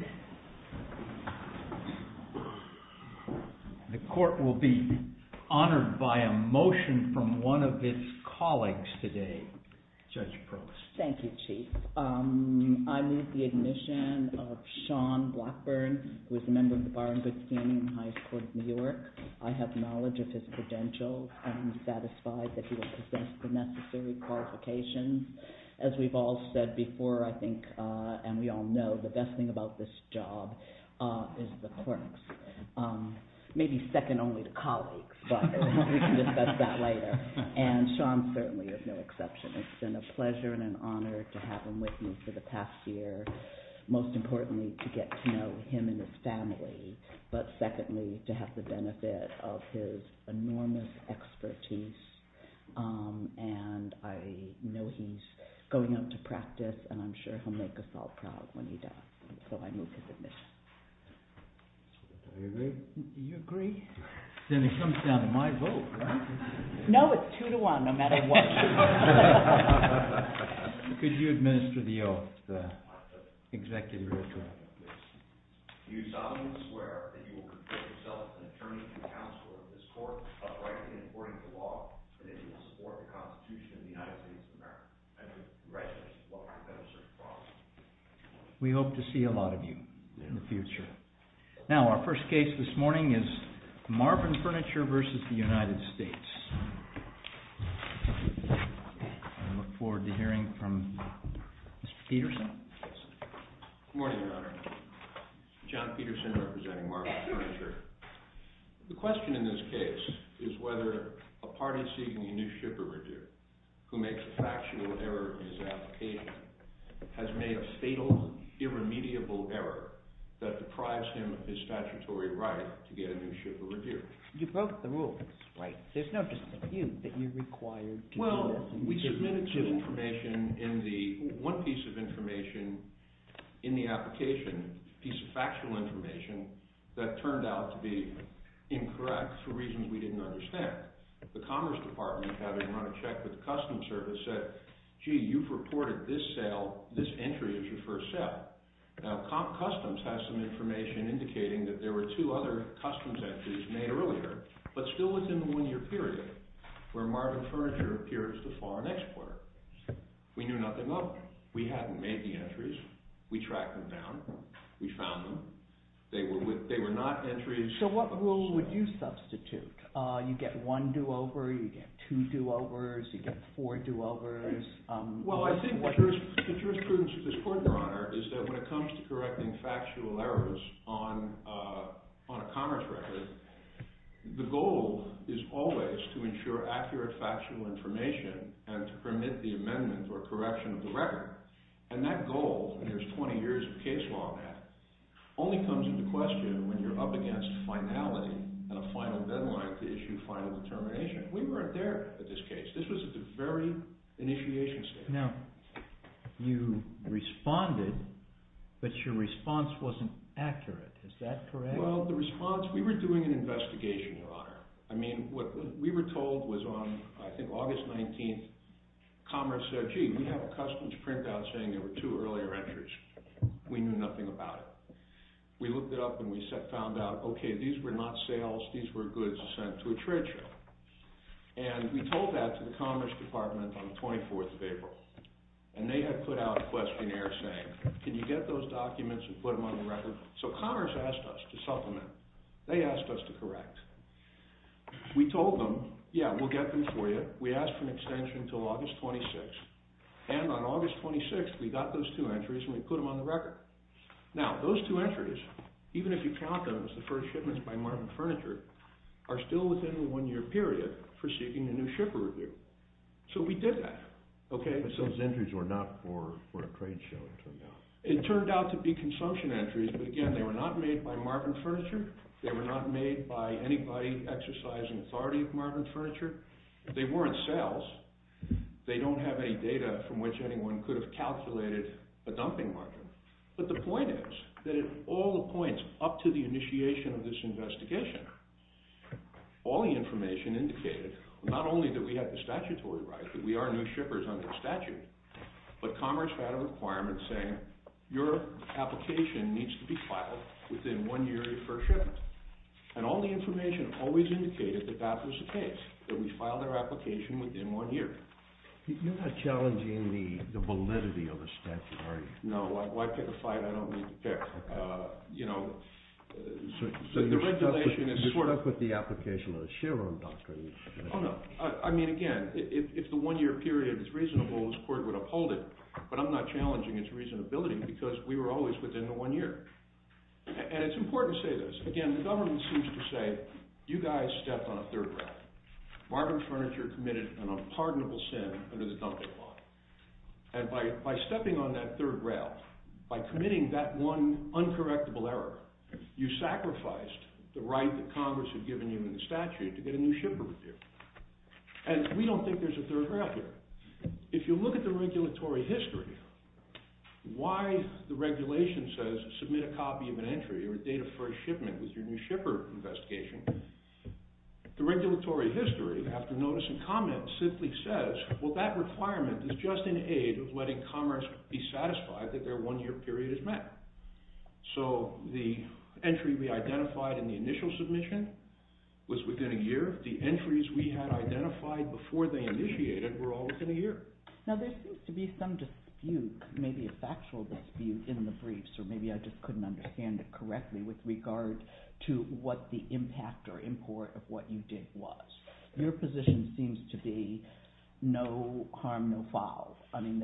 Court of Appeals The Court will be honored by a motion from one of its colleagues today. JUDGE PROBST Thank you, Chief. I move the admission of Shawn Blackburn, who is a member of the Bar and Good Steering and Highest Court of New York. I have knowledge of his credentials and am satisfied that he will possess the necessary qualifications. As we've all said before, I think, and we all know, the best thing about this is that this job is the court's. Maybe second only to colleagues, but we can discuss that later. And Shawn certainly is no exception. It's been a pleasure and an honor to have him with me for the past year, most importantly to get to know him and his family, but secondly, to have the benefit of his enormous expertise. And I know he's going out to practice, and I'm sure he'll make us all proud when he does. So I move his admission. JUDGE PROBST Do you agree? Then it comes down to my vote, right? MS. BLACKBURN No, it's two to one, no matter what. JUDGE PROBST Could you administer the executive order? MR. BLACKBURN You solemnly swear that you will consider yourself an attorney and counselor of this court, uprightly and according to law, and that you will support the Constitution of the United States of America. I do. BLACKBURN Thank you. Thank you. Thank you. Thank you. Thank you. Thank you. Thank you. Thank you. Thank you. Thank you. Thank you. I hope to see a lot of you in the future. Now, our first case this morning is Marvin Furniture v. United States. I look forward to hearing from Mr. Peterson. MR. PETERSON Good morning, Your Honor. John Peterson representing Marvin Furniture. The question in this case is whether a party seeking initiative overdue who makes a factors error in his application has made a fatal, irremediable error that deprives him of his statutory right to get a new ship or review. FURNITURE You broke the rules. PETERSON Right. MR. FURNITURE There's no dispute that you're required to do this. MR. PETERSON Well, we submitted some information in the – one piece of information in the application, a piece of factual information, that turned out to be incorrect for reasons we didn't understand. The Commerce Department, having run a check with the Customs Service, said, gee, you've reported this sale – this entry as your first sale. Now, Customs has some information indicating that there were two other customs entries made earlier, but still within the one-year period, where Marvin Furniture appeared as the foreign exporter. We knew nothing of them. We hadn't made the entries. We tracked them down. We found them. They were with – they were not entries – MR. PETERSON So what rule would you substitute? You get one do-over. You get two do-overs. You get four do-overs. MR. FURNITURE Well, I think the truth – the truth, prudence of this court, Your Honor, is that when it comes to correcting factual errors on a commerce record, the goal is always to ensure accurate factual information and to permit the amendment or correction of the record. And that goal – and there's 20 years of case law on that – only comes into question And I think that's what we're trying to do. And I think that's what we're trying to do. issue final determination. We weren't there at this case. This was at the very initiation stage. MR. PETERSON Now, you responded, but your response wasn't accurate. Is that correct? MR. FURNITURE Well, the response – we were doing an investigation, Your Honor. I mean, what we were told was on, I think, August 19th, Commerce said, Gee, we have a customs printout saying there were two earlier entries. We knew nothing about it. So we did a through look at the record of these entries. And we found out that, on the first day that we looked at the record, the first day of the shipment was sent to a trade show. And we told that to the Commerce Department on the 24th of April. And they had put out a questionnaire saying, Can you get those documents and put them on the record? So Commerce asked us to supplement. They asked us to correct. We told them, Yeah, we'll get them for you. We asked for an extension until August 26th. And on August 26th, we got those two entries, and we put them on the record. Now, those two entries, even if you count them as the first shipments by Martin Furniture, FURNITURE Well, the response wasn't accurate. MR. PETERSON Now, you responded, but your response wasn't accurate. MR. PETERSON So we did that. MR. NEUMANN But those entries were not for a trade show, it turned out. MR. PETERSON It turned out to be consumption entries. But, again, they were not made by Martin Furniture. They were not made by anybody exercising authority at Martin Furniture. They weren't sales. They don't have any data from which anyone could have calculated a dumping margin. MR. NEUMANN I'm sorry. MR. PETERSON I'm sorry. MR. NEUMANN I'm sorry. MR. PETERSON I'm sorry. MR. PETERSON I mean, again, if the one-year period is reasonable, this court would uphold it. But I'm not challenging its reasonability, because we were always within the one year. And it's important to say this. Again, the government seems to say, you guys stepped on a third rail. Modern Furniture committed an unpardonable sin under the dumping law. And by stepping on that third rail, by committing that one uncorrectable error, you sacrificed the right that Congress had given you in the statute to get a new shipper repair. And we don't think there's a third rail here. If you look at the regulatory history, why the regulation says, submit a copy of an entry or a date of first shipment with your new shipper investigation, the regulatory history, after notice and comments, simply says, well, that requirement is just an aid of letting commerce be satisfied that their one-year period is met. So the entry we identified in the initial submission was within a year. The entries we had identified before they initiated were all within a year. Now, there seems to be some dispute, maybe a factual dispute in the briefs, or maybe I just couldn't understand it correctly with regard to what the impact or import of what you did was. Your position seems to be no harm, no foul. I mean,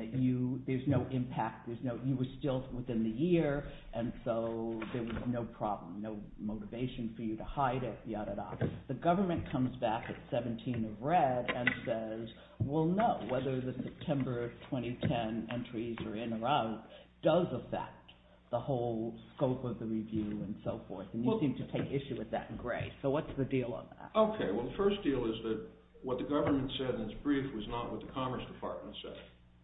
there's no impact. You were still within the year, and so there was no problem, no motivation for you to hide it, ya-da-da. The government comes back at 17 of red and says, well, no, whether the September 2010 entries are in or out does affect the whole scope of the review and so forth. And you seem to take issue with that in gray. So what's the deal on that? Okay, well, the first deal is that what the government said in its brief was not what the Commerce Department said.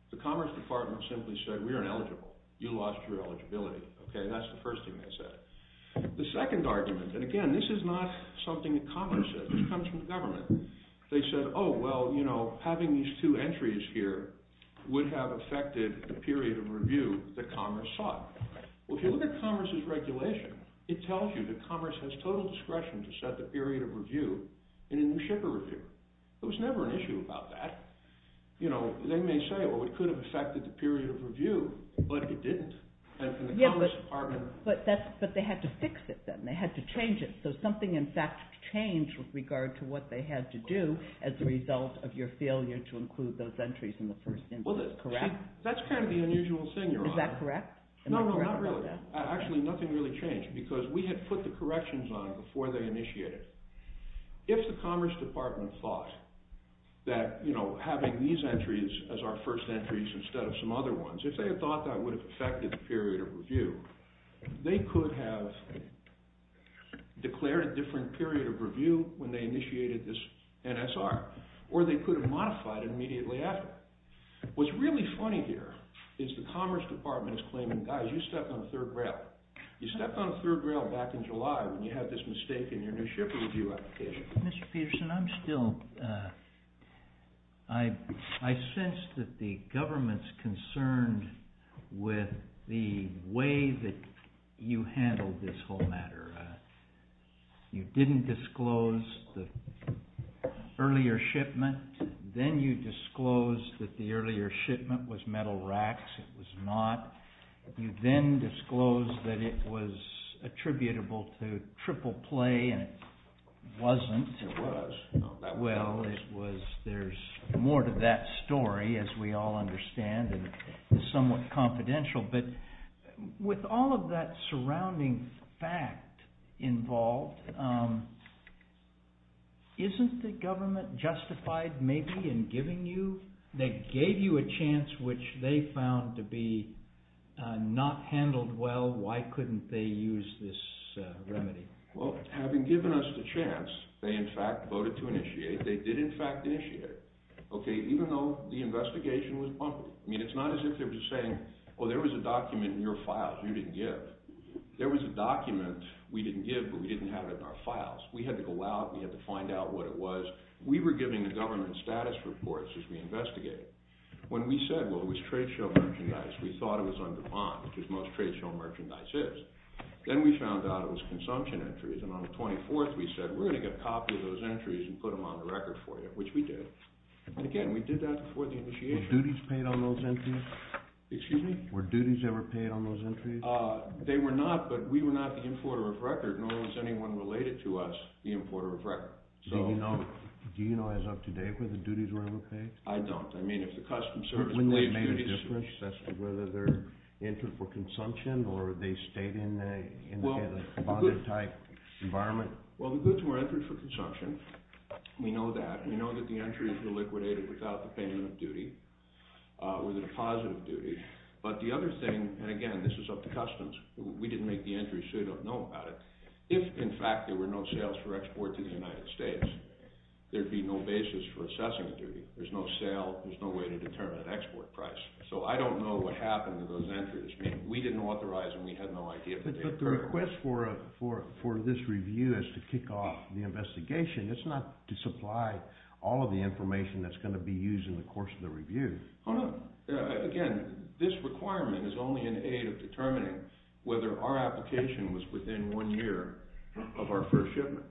The Commerce Department simply said, we're ineligible. You lost your eligibility. Okay, that's the first thing they said. The second argument, and again, this is not something that commerce said. This comes from the government. They said, oh, well, you know, having these two entries here would have affected the period of review that commerce sought. Well, if you look at commerce's regulation, it tells you that commerce has total discretion to set the period of review in a new shipper review. There was never an issue about that. You know, they may say, well, it could have affected the period of review, but it didn't. And from the Commerce Department… But they had to fix it then. They had to change it. So something, in fact, changed with regard to what they had to do as a result of your failure to include those entries in the first instance. Was it correct? That's kind of the unusual thing you're on. Is that correct? No, no, not really. Actually, nothing really changed because we had put the corrections on it before they initiated it. If the Commerce Department thought that, you know, having these entries as our first entries instead of some other ones, if they had thought that would have affected the period of review, they could have declared a different period of review when they initiated this NSR, or they could have modified it immediately after. What's really funny here is the Commerce Department is claiming, guys, you stepped on third rail. You stepped on third rail back in July when you had this mistake in your new shipper review application. Mr. Peterson, I'm still… I sense that the government's concerned with the way that you handled this whole matter. You didn't disclose the earlier shipment. Then you disclosed that the earlier shipment was metal racks. It was not. You then disclosed that it was attributable to triple play, and it wasn't. It was. Well, there's more to that story, as we all understand, and it's somewhat confidential. But with all of that surrounding fact involved, isn't the government justified maybe in giving you… They gave you a chance, which they found to be not handled well. Why couldn't they use this remedy? Well, having given us the chance, they, in fact, voted to initiate. They did, in fact, initiate it. Okay, even though the investigation was public. I mean, it's not as if they were just saying, oh, there was a document in your files you didn't give. There was a document we didn't give, but we didn't have it in our files. We had to go out and we had to find out what it was. We were giving the government status reports as we investigated. When we said, well, it was trade show merchandise, we thought it was under bond, which most trade show merchandise is. Then we found out it was consumption entries, and on the 24th we said, we're going to get a copy of those entries and put them on the record for you, which we did. And, again, we did that before the initiation. Were duties paid on those entries? Excuse me? Were duties ever paid on those entries? They were not, but we were not the importer of record, nor was anyone related to us the importer of record. Do you know as of today whether duties were ever paid? I don't. I mean, if the customs service made a difference as to whether they're entered for consumption or they stayed in a bonded-type environment? Well, the goods were entered for consumption. We know that. We know that the entries were liquidated without the payment of duty or the deposit of duty. But the other thing, and, again, this is up to customs. We didn't make the entries, so you don't know about it. If, in fact, there were no sales for export to the United States, there would be no basis for assessing a duty. There's no sale. There's no way to determine an export price. So I don't know what happened to those entries. I mean, we didn't authorize, and we had no idea. But the request for this review is to kick off the investigation. It's not to supply all of the information that's going to be used in the course of the review. Oh, no. Again, this requirement is only in aid of determining whether our application was within one year of our first shipment.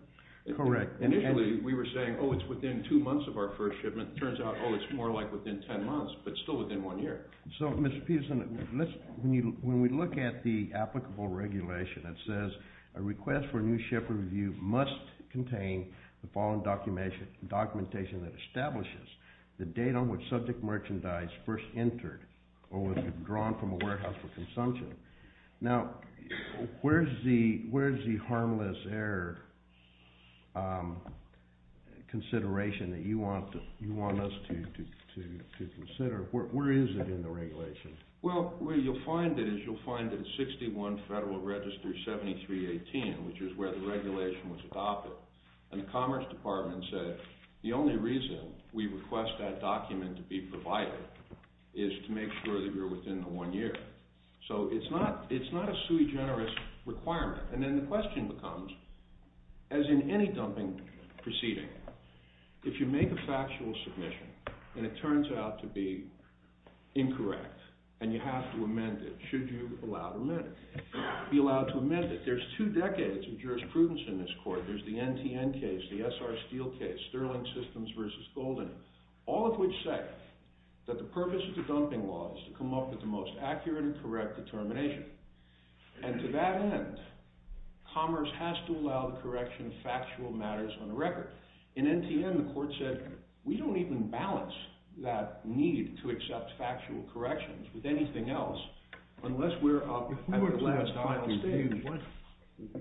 Correct. Initially, we were saying, oh, it's within two months of our first shipment. It turns out, oh, it's more like within 10 months but still within one year. So, Mr. Peterson, when we look at the applicable regulation, it says a request for a new ship review must contain the following documentation that establishes the date on which subject merchandise first entered or was drawn from a warehouse for consumption. Now, where's the harmless error consideration that you want us to consider? Where is it in the regulation? Well, where you'll find it is you'll find that it's 61 Federal Register 7318, which is where the regulation was adopted. And the Commerce Department said the only reason we request that document to be provided is to make sure that you're within the one year. So it's not a sui generis requirement. And then the question becomes, as in any dumping proceeding, if you make a factual submission and it turns out to be incorrect and you have to amend it, should you be allowed to amend it? There's two decades of jurisprudence in this court. There's the NTN case, the SR Steel case, Sterling Systems v. Golden, all of which say that the purpose of the dumping law is to come up with the most accurate and correct determination. And to that end, Commerce has to allow the correction of factual matters on the record. In NTN, the court said we don't even balance that need to accept factual corrections with anything else unless we're up at the last final stage.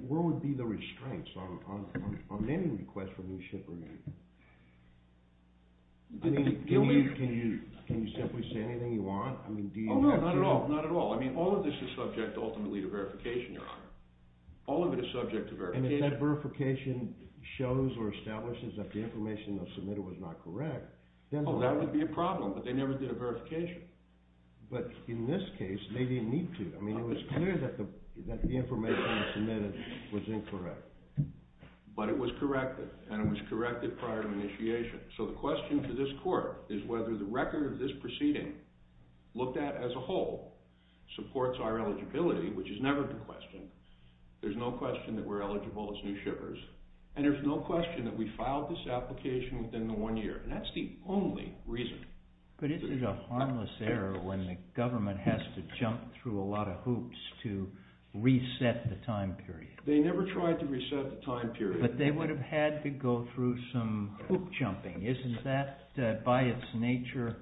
Where would be the restraints on any request for new shipping? Can you simply say anything you want? Oh, no, not at all. I mean, all of this is subject ultimately to verification, Your Honor. All of it is subject to verification. And if that verification shows or establishes that the information submitted was not correct, then... Oh, that would be a problem, but they never did a verification. But in this case, they didn't need to. I mean, it was clear that the information submitted was incorrect. But it was corrected, and it was corrected prior to initiation. So the question to this court is whether the record of this proceeding, looked at as a whole, supports our eligibility, which is never the question. There's no question that we're eligible as new shippers, and there's no question that we filed this application within the one year. And that's the only reason. But this is a harmless error when the government has to jump through a lot of hoops to reset the time period. They never tried to reset the time period. But they would have had to go through some hoop jumping. Isn't that, by its nature,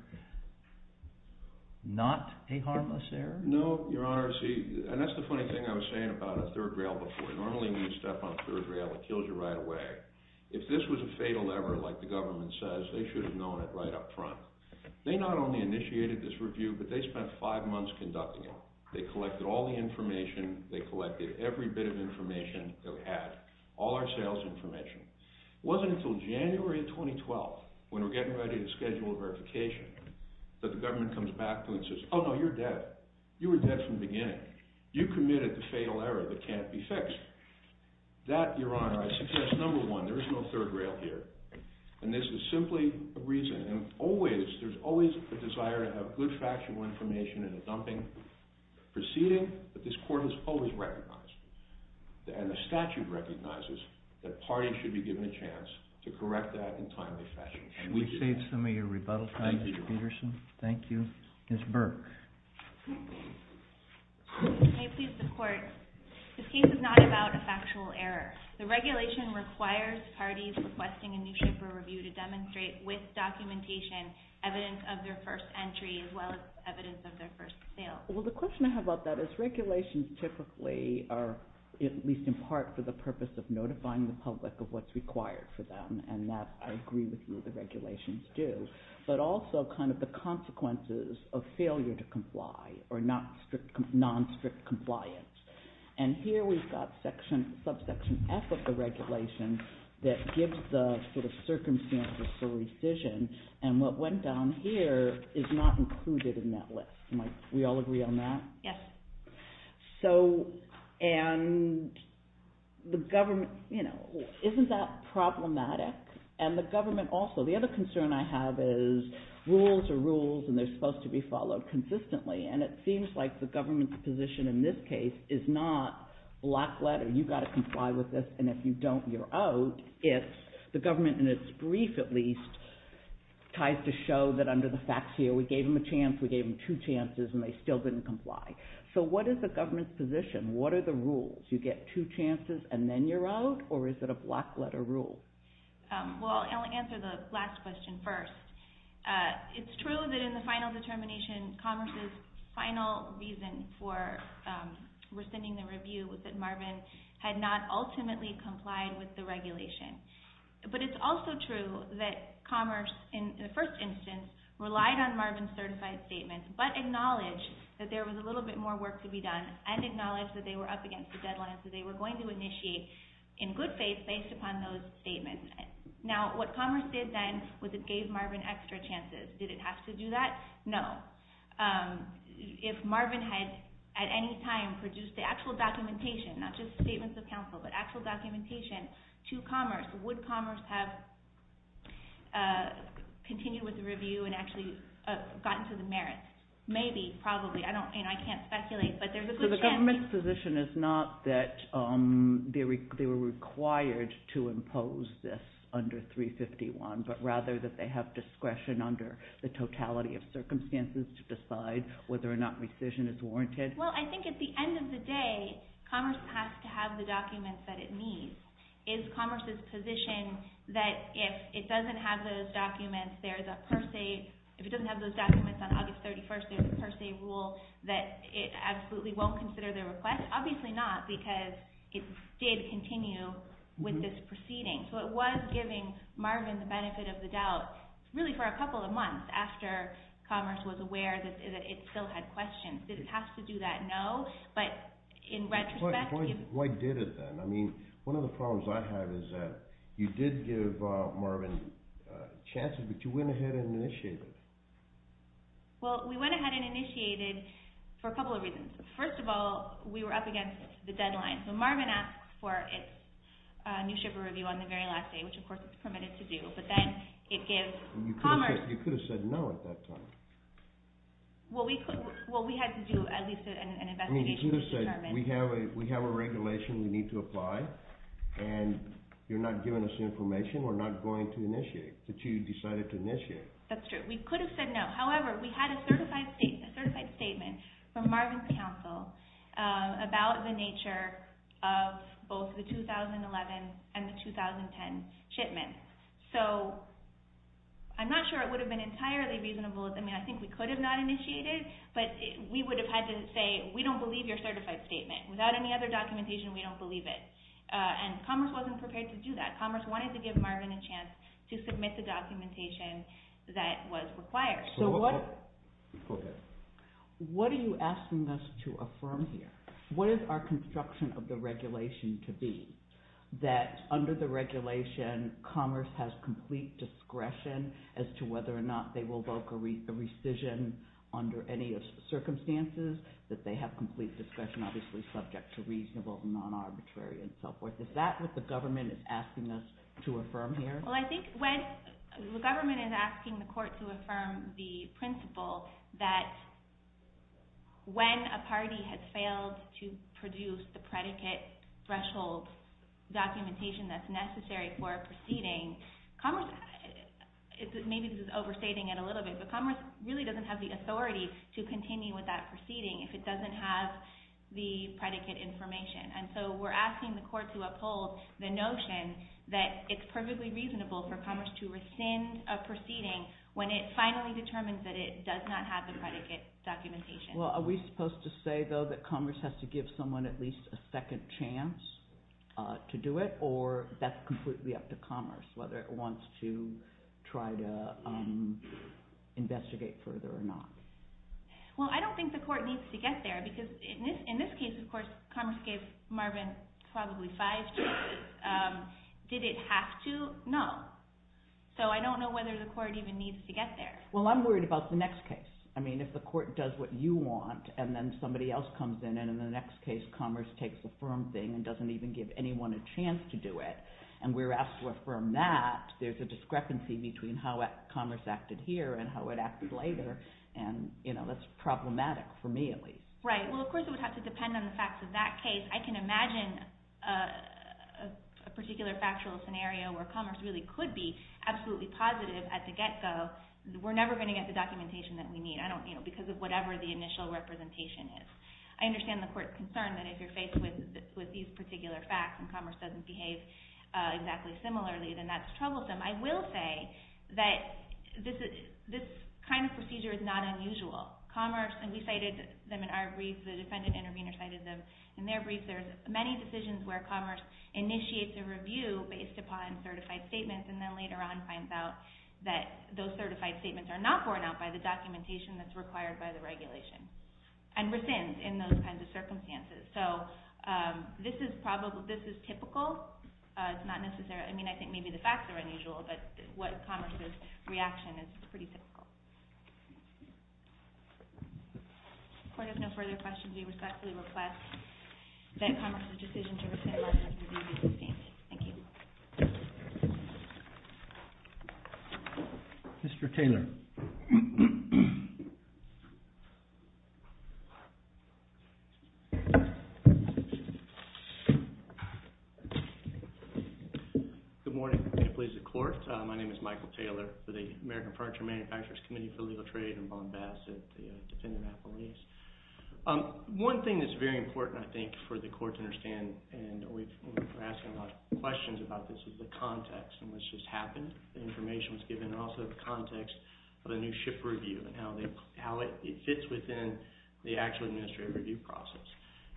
not a harmless error? No, Your Honor. See, and that's the funny thing I was saying about a third rail before. Normally when you step on a third rail, it kills you right away. If this was a fatal error, like the government says, they should have known it right up front. They not only initiated this review, but they spent five months conducting it. They collected all the information. They collected every bit of information that we had, all our sales information. It wasn't until January of 2012, when we're getting ready to schedule a verification, that the government comes back to us and says, Oh no, you're dead. You were dead from the beginning. You committed the fatal error that can't be fixed. That, Your Honor, I suggest, number one, there is no third rail here. And this is simply a reason. And always, there's always a desire to have good factual information in a dumping proceeding. But this court has always recognized, and the statute recognizes, that parties should be given a chance to correct that in timely fashion. We've saved some of your rebuttal time, Mr. Peterson. Thank you. Ms. Burke. May it please the Court. This case is not about a factual error. The regulation requires parties requesting a newship or review to demonstrate, with documentation, evidence of their first entry, as well as evidence of their first sale. Well, the question I have about that is, regulations typically are, at least in part, for the purpose of notifying the public of what's required for them. And that, I agree with you, the regulations do. But also, kind of the consequences of failure to comply or non-strict compliance. And here we've got subsection F of the regulation that gives the sort of circumstances for rescission. And what went down here is not included in that list. We all agree on that? Yes. So, and the government, you know, isn't that problematic? And the government also. The other concern I have is rules are rules and they're supposed to be followed consistently. And it seems like the government's position in this case is not black letter, you've got to comply with this, and if you don't, you're out. It's the government, in its brief at least, tries to show that under the facts here, we gave them a chance, we gave them two chances, and they still didn't comply. So what is the government's position? What are the rules? You get two chances and then you're out? Or is it a black letter rule? Well, I'll answer the last question first. It's true that in the final determination, Commerce's final reason for rescinding the review was that Marvin had not ultimately complied with the regulation. But it's also true that Commerce, in the first instance, relied on Marvin's certified statement, but acknowledged that there was a little bit more work to be done, and acknowledged that they were up against the deadline, so they were going to initiate, in good faith, based upon those statements. Now, what Commerce did then was it gave Marvin extra chances. Did it have to do that? No. If Marvin had, at any time, produced the actual documentation, not just statements of counsel, but actual documentation to Commerce, would Commerce have continued with the review and actually gotten to the merits? Maybe, probably. I can't speculate, but there's a good chance. So the government's position is not that they were required to impose this under 351, but rather that they have discretion under the totality of circumstances to decide whether or not rescission is warranted? Well, I think at the end of the day, Commerce has to have the documents that it needs. Is Commerce's position that if it doesn't have those documents on August 31st, there's a per se rule that it absolutely won't consider the request? Obviously not, because it did continue with this proceeding. So it was giving Marvin the benefit of the doubt, really for a couple of months, after Commerce was aware that it still had questions. Did it have to do that? No. Why did it then? I mean, one of the problems I have is that you did give Marvin chances, but you went ahead and initiated it. Well, we went ahead and initiated it for a couple of reasons. First of all, we were up against the deadline, so Marvin asked for its new shipper review on the very last day, which of course it's permitted to do. But then it gives Commerce... You could have said no at that time. Well, we had to do at least an investigation to determine... I mean, you could have said, we have a regulation we need to apply, and you're not giving us information, we're not going to initiate, but you decided to initiate. That's true. We could have said no. However, we had a certified statement from Marvin's counsel about the nature of both the 2011 and the 2010 shipments. So I'm not sure it would have been entirely reasonable. I mean, I think we could have not initiated, but we would have had to say, we don't believe your certified statement. Without any other documentation, we don't believe it. And Commerce wasn't prepared to do that. Commerce wanted to give Marvin a chance to submit the documentation that was required. What are you asking us to affirm here? What is our construction of the regulation to be? That under the regulation, Commerce has complete discretion as to whether or not they will invoke a rescission under any circumstances? That they have complete discretion, obviously subject to reasonable, non-arbitrary, and so forth. Is that what the government is asking us to affirm here? Well, I think the government is asking the court to affirm the principle that when a party has failed to produce the predicate threshold documentation that's necessary for a proceeding, maybe this is overstating it a little bit, but Commerce really doesn't have the authority to continue with that proceeding if it doesn't have the predicate information. And so we're asking the court to uphold the notion that it's perfectly reasonable for Commerce to rescind a proceeding when it finally determines that it does not have the predicate documentation. Well, are we supposed to say, though, that Commerce has to give someone at least a second chance to do it, or that's completely up to Commerce, whether it wants to try to investigate further or not? Well, I don't think the court needs to get there, because in this case, of course, Commerce gave Marvin probably five chances. Did it have to? No. So I don't know whether the court even needs to get there. Well, I'm worried about the next case. I mean, if the court does what you want, and then somebody else comes in, and in the next case Commerce takes a firm thing and doesn't even give anyone a chance to do it, and we're asked to affirm that, there's a discrepancy between how Commerce acted here and how it acted later, and that's problematic for me at least. Right. Well, of course it would have to depend on the facts of that case. I can imagine a particular factual scenario where Commerce really could be absolutely positive at the get-go, we're never going to get the documentation that we need, because of whatever the initial representation is. I understand the court's concern that if you're faced with these particular facts and Commerce doesn't behave exactly similarly, then that's troublesome. I will say that this kind of procedure is not unusual. Commerce, and we cited them in our brief, the defendant intervener cited them in their brief, there's many decisions where Commerce initiates a review based upon certified statements, and then later on finds out that those certified statements are not borne out by the documentation that's required by the regulation, and rescinds in those kinds of circumstances. So, this is typical, it's not necessarily, I mean, I think maybe the facts are unusual, but Commerce's reaction is pretty typical. The court has no further questions. We respectfully request that Commerce's decision to rescind license review be sustained. Thank you. Thank you, sir. Good morning, please, the court. My name is Michael Taylor for the American Furniture Manufacturers Committee for Legal Trade and Bombast at the defendant appellees. One thing that's very important, I think, for the court to understand, and we've been asking a lot of questions about this, is the context in which this happened, the information that was given, and also the context of the new ship review and how it fits within the actual administrative review process.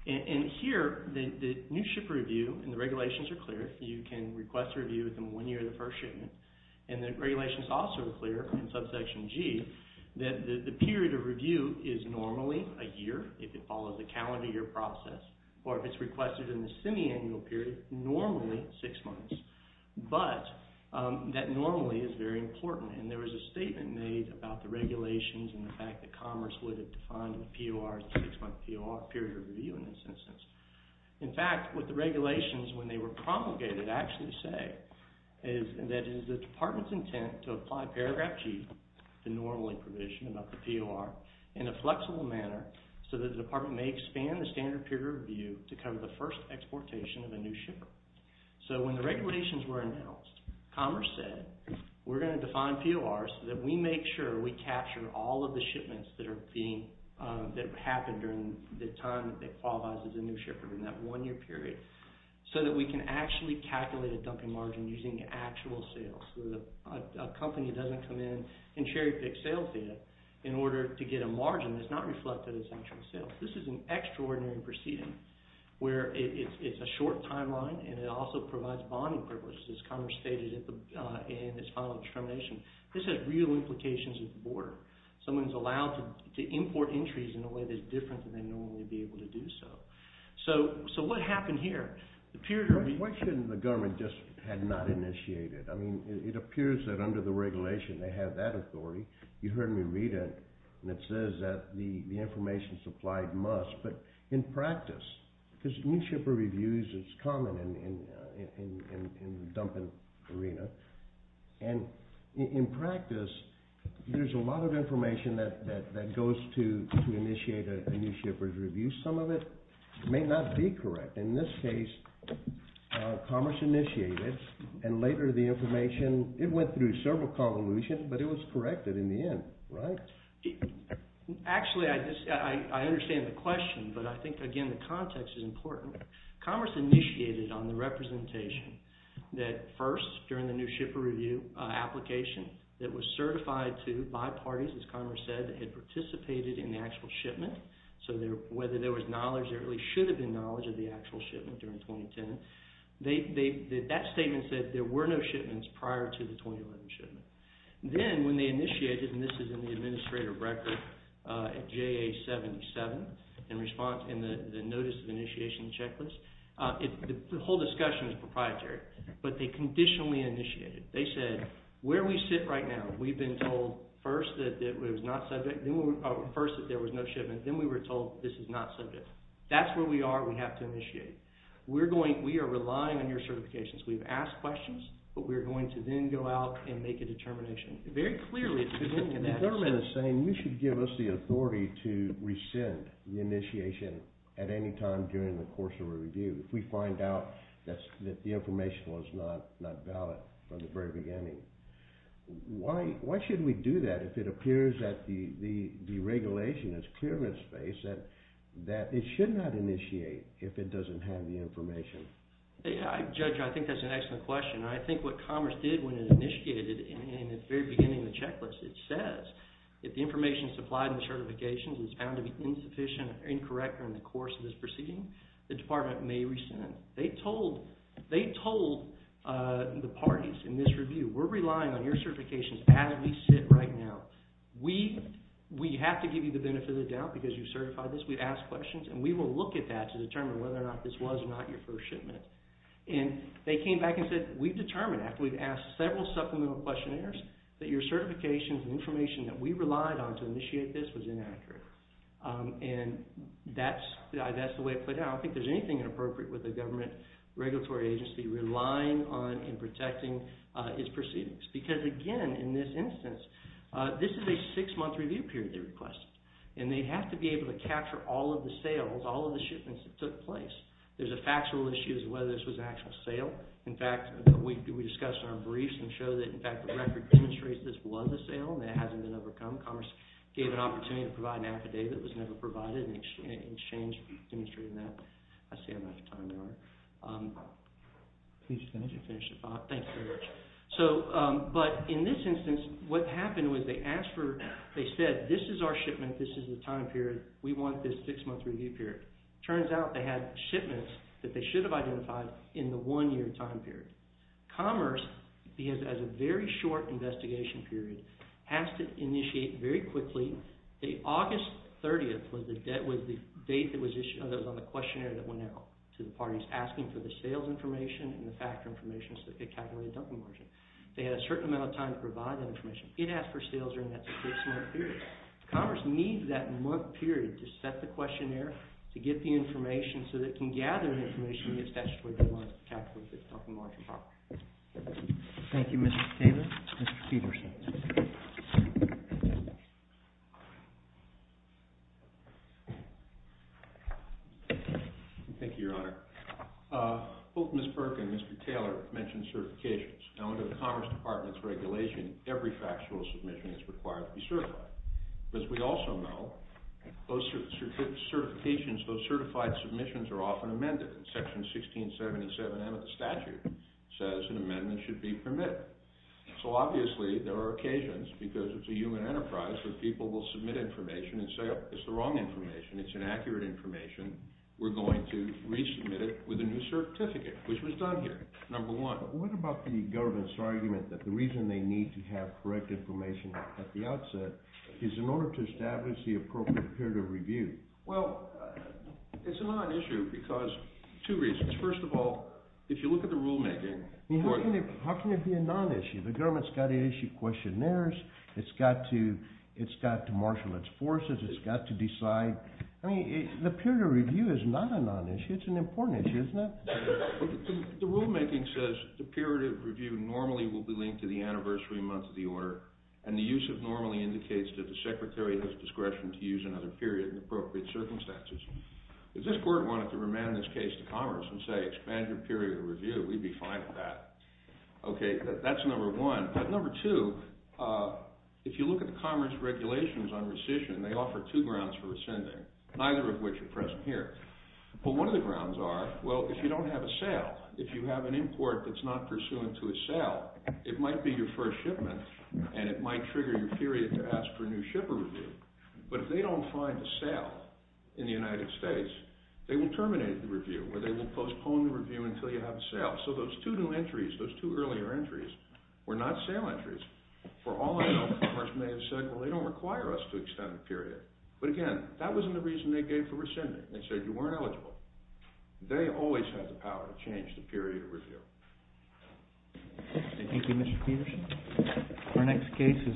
And here, the new ship review and the regulations are clear. You can request a review within one year of the first shipment. And the regulations also are clear in subsection G that the period of review is normally a year if it follows a calendar year process, or if it's requested in the semi-annual period, normally six months. But that normally is very important, and there was a statement made about the regulations and the fact that Commerce would have defined the POR as a six-month period of review in this instance. In fact, what the regulations, when they were promulgated, actually say is that it is the department's intent to apply paragraph G, the normally provision about the POR, in a flexible manner so that the department may expand the standard period of review to cover the first exportation of a new ship. So, when the regulations were announced, Commerce said, we're going to define PORs so that we make sure we capture all of the shipments that happened during the time that they qualifies as a new shipper in that one-year period, so that we can actually calculate a dumping margin using actual sales. So, a company doesn't come in and cherry-pick sales data in order to get a margin that's not reflected as actual sales. This is an extraordinary proceeding where it's a short timeline, and it also provides bonding purposes, as Commerce stated in its final determination. This has real implications at the border. Someone's allowed to import entries in a way that's different than they'd normally be able to do so. So, what happened here? The question the government just had not initiated. I mean, it appears that under the regulation, they have that authority. You heard me read it, and it says that the information supplied must, but in practice, because new shipper reviews is common in the dumping arena, and in practice, there's a lot of information that goes to initiate a new shipper's review. Some of it may not be correct. In this case, Commerce initiated it, and later, the information, it went through several convolutions, but it was corrected in the end, right? Actually, I understand the question, but I think, again, the context is important. Commerce initiated on the representation that first, during the new shipper review application, it was certified to by parties, as Commerce said, that had participated in the actual shipment. So, whether there was knowledge, there really should have been knowledge of the actual shipment during 2010. That statement said there were no shipments prior to the 2011 shipment. Then, when they initiated, and this is in the administrator record, JA-77, and the notice of initiation checklist, the whole discussion is proprietary, but they conditionally initiated. They said, where we sit right now, we've been told first that there was no shipment, then we were told this is not subject. That's where we are, we have to initiate. We are relying on your certifications. We've asked questions, but we're going to then go out and make a determination. Very clearly, at the beginning of that- The government is saying, you should give us the authority to rescind the initiation at any time during the course of a review. If we find out that the information was not valid from the very beginning, why should we do that if it appears that the regulation is clear in its face, that it should not initiate if it doesn't have the information? Judge, I think that's an excellent question. I think what Commerce did when it initiated, in the very beginning of the checklist, it says if the information supplied in the certifications is found to be insufficient or incorrect during the course of this proceeding, the department may rescind. They told the parties in this review, we're relying on your certifications as we sit right now. We have to give you the benefit of the doubt because you've certified this. We've asked questions, and we will look at that to determine whether or not this was not your first shipment. They came back and said, we've determined after we've asked several supplemental questionnaires that your certifications and information that we relied on to initiate this was inaccurate. That's the way it played out. I don't think there's anything inappropriate with a government regulatory agency relying on and protecting its proceedings. Because, again, in this instance, this is a six-month review period they requested. They have to be able to capture all of the sales, all of the shipments that took place. There's a factual issue as to whether this was an actual sale. In fact, we discussed in our briefs and showed that, in fact, the record demonstrates this was a sale and it hasn't been overcome. Commerce gave an opportunity to provide an affidavit that was never provided, and it changed from demonstrating that. I see I'm out of time now. Please finish. Thank you very much. But in this instance, what happened was they said, this is our shipment. This is the time period. We want this six-month review period. It turns out they had shipments that they should have identified in the one-year time period. Commerce, because it has a very short investigation period, has to initiate very quickly. August 30th was the date that was issued on the questionnaire that went out to the parties, asking for the sales information and the factor information so they could calculate a dumping margin. They had a certain amount of time to provide that information. It asked for sales during that six-month period. Commerce needs that month period to set the questionnaire, to get the information, so they can gather the information and get statutory guidelines to calculate the dumping margin properly. Thank you, Mr. Taylor. Mr. Peterson. Thank you, Your Honor. Both Ms. Burke and Mr. Taylor mentioned certifications. Under the Commerce Department's regulation, every factual submission is required to be certified. As we also know, those certified submissions are often amended. Section 1677M of the statute says an amendment should be permitted. So obviously there are occasions, because it's a human enterprise, where people will submit information and say, oh, it's the wrong information, it's inaccurate information, we're going to resubmit it with a new certificate, which was done here, number one. What about the government's argument that the reason they need to have correct information at the outset is in order to establish the appropriate period of review? Well, it's a non-issue because two reasons. First of all, if you look at the rulemaking— How can it be a non-issue? The government's got to issue questionnaires. It's got to marshal its forces. It's got to decide. The period of review is not a non-issue. It's an important issue, isn't it? The rulemaking says the period of review normally will be linked to the anniversary month of the order, and the use of normally indicates that the Secretary has discretion to use another period in appropriate circumstances. If this court wanted to remand this case to Commerce and say, expand your period of review, we'd be fine with that. Okay, that's number one. But number two, if you look at the Commerce regulations on rescission, they offer two grounds for rescinding, neither of which are present here. But one of the grounds are, well, if you don't have a sale, if you have an import that's not pursuant to a sale, it might be your first shipment, and it might trigger your period to ask for a new shipper review. But if they don't find a sale in the United States, they will terminate the review, or they will postpone the review until you have a sale. So those two new entries, those two earlier entries, were not sale entries. For all I know, Commerce may have said, well, they don't require us to extend the period. But again, that wasn't the reason they gave for rescinding. They said you weren't eligible. They always had the power to change the period of review. Thank you, Mr. Peterson. Our next case is...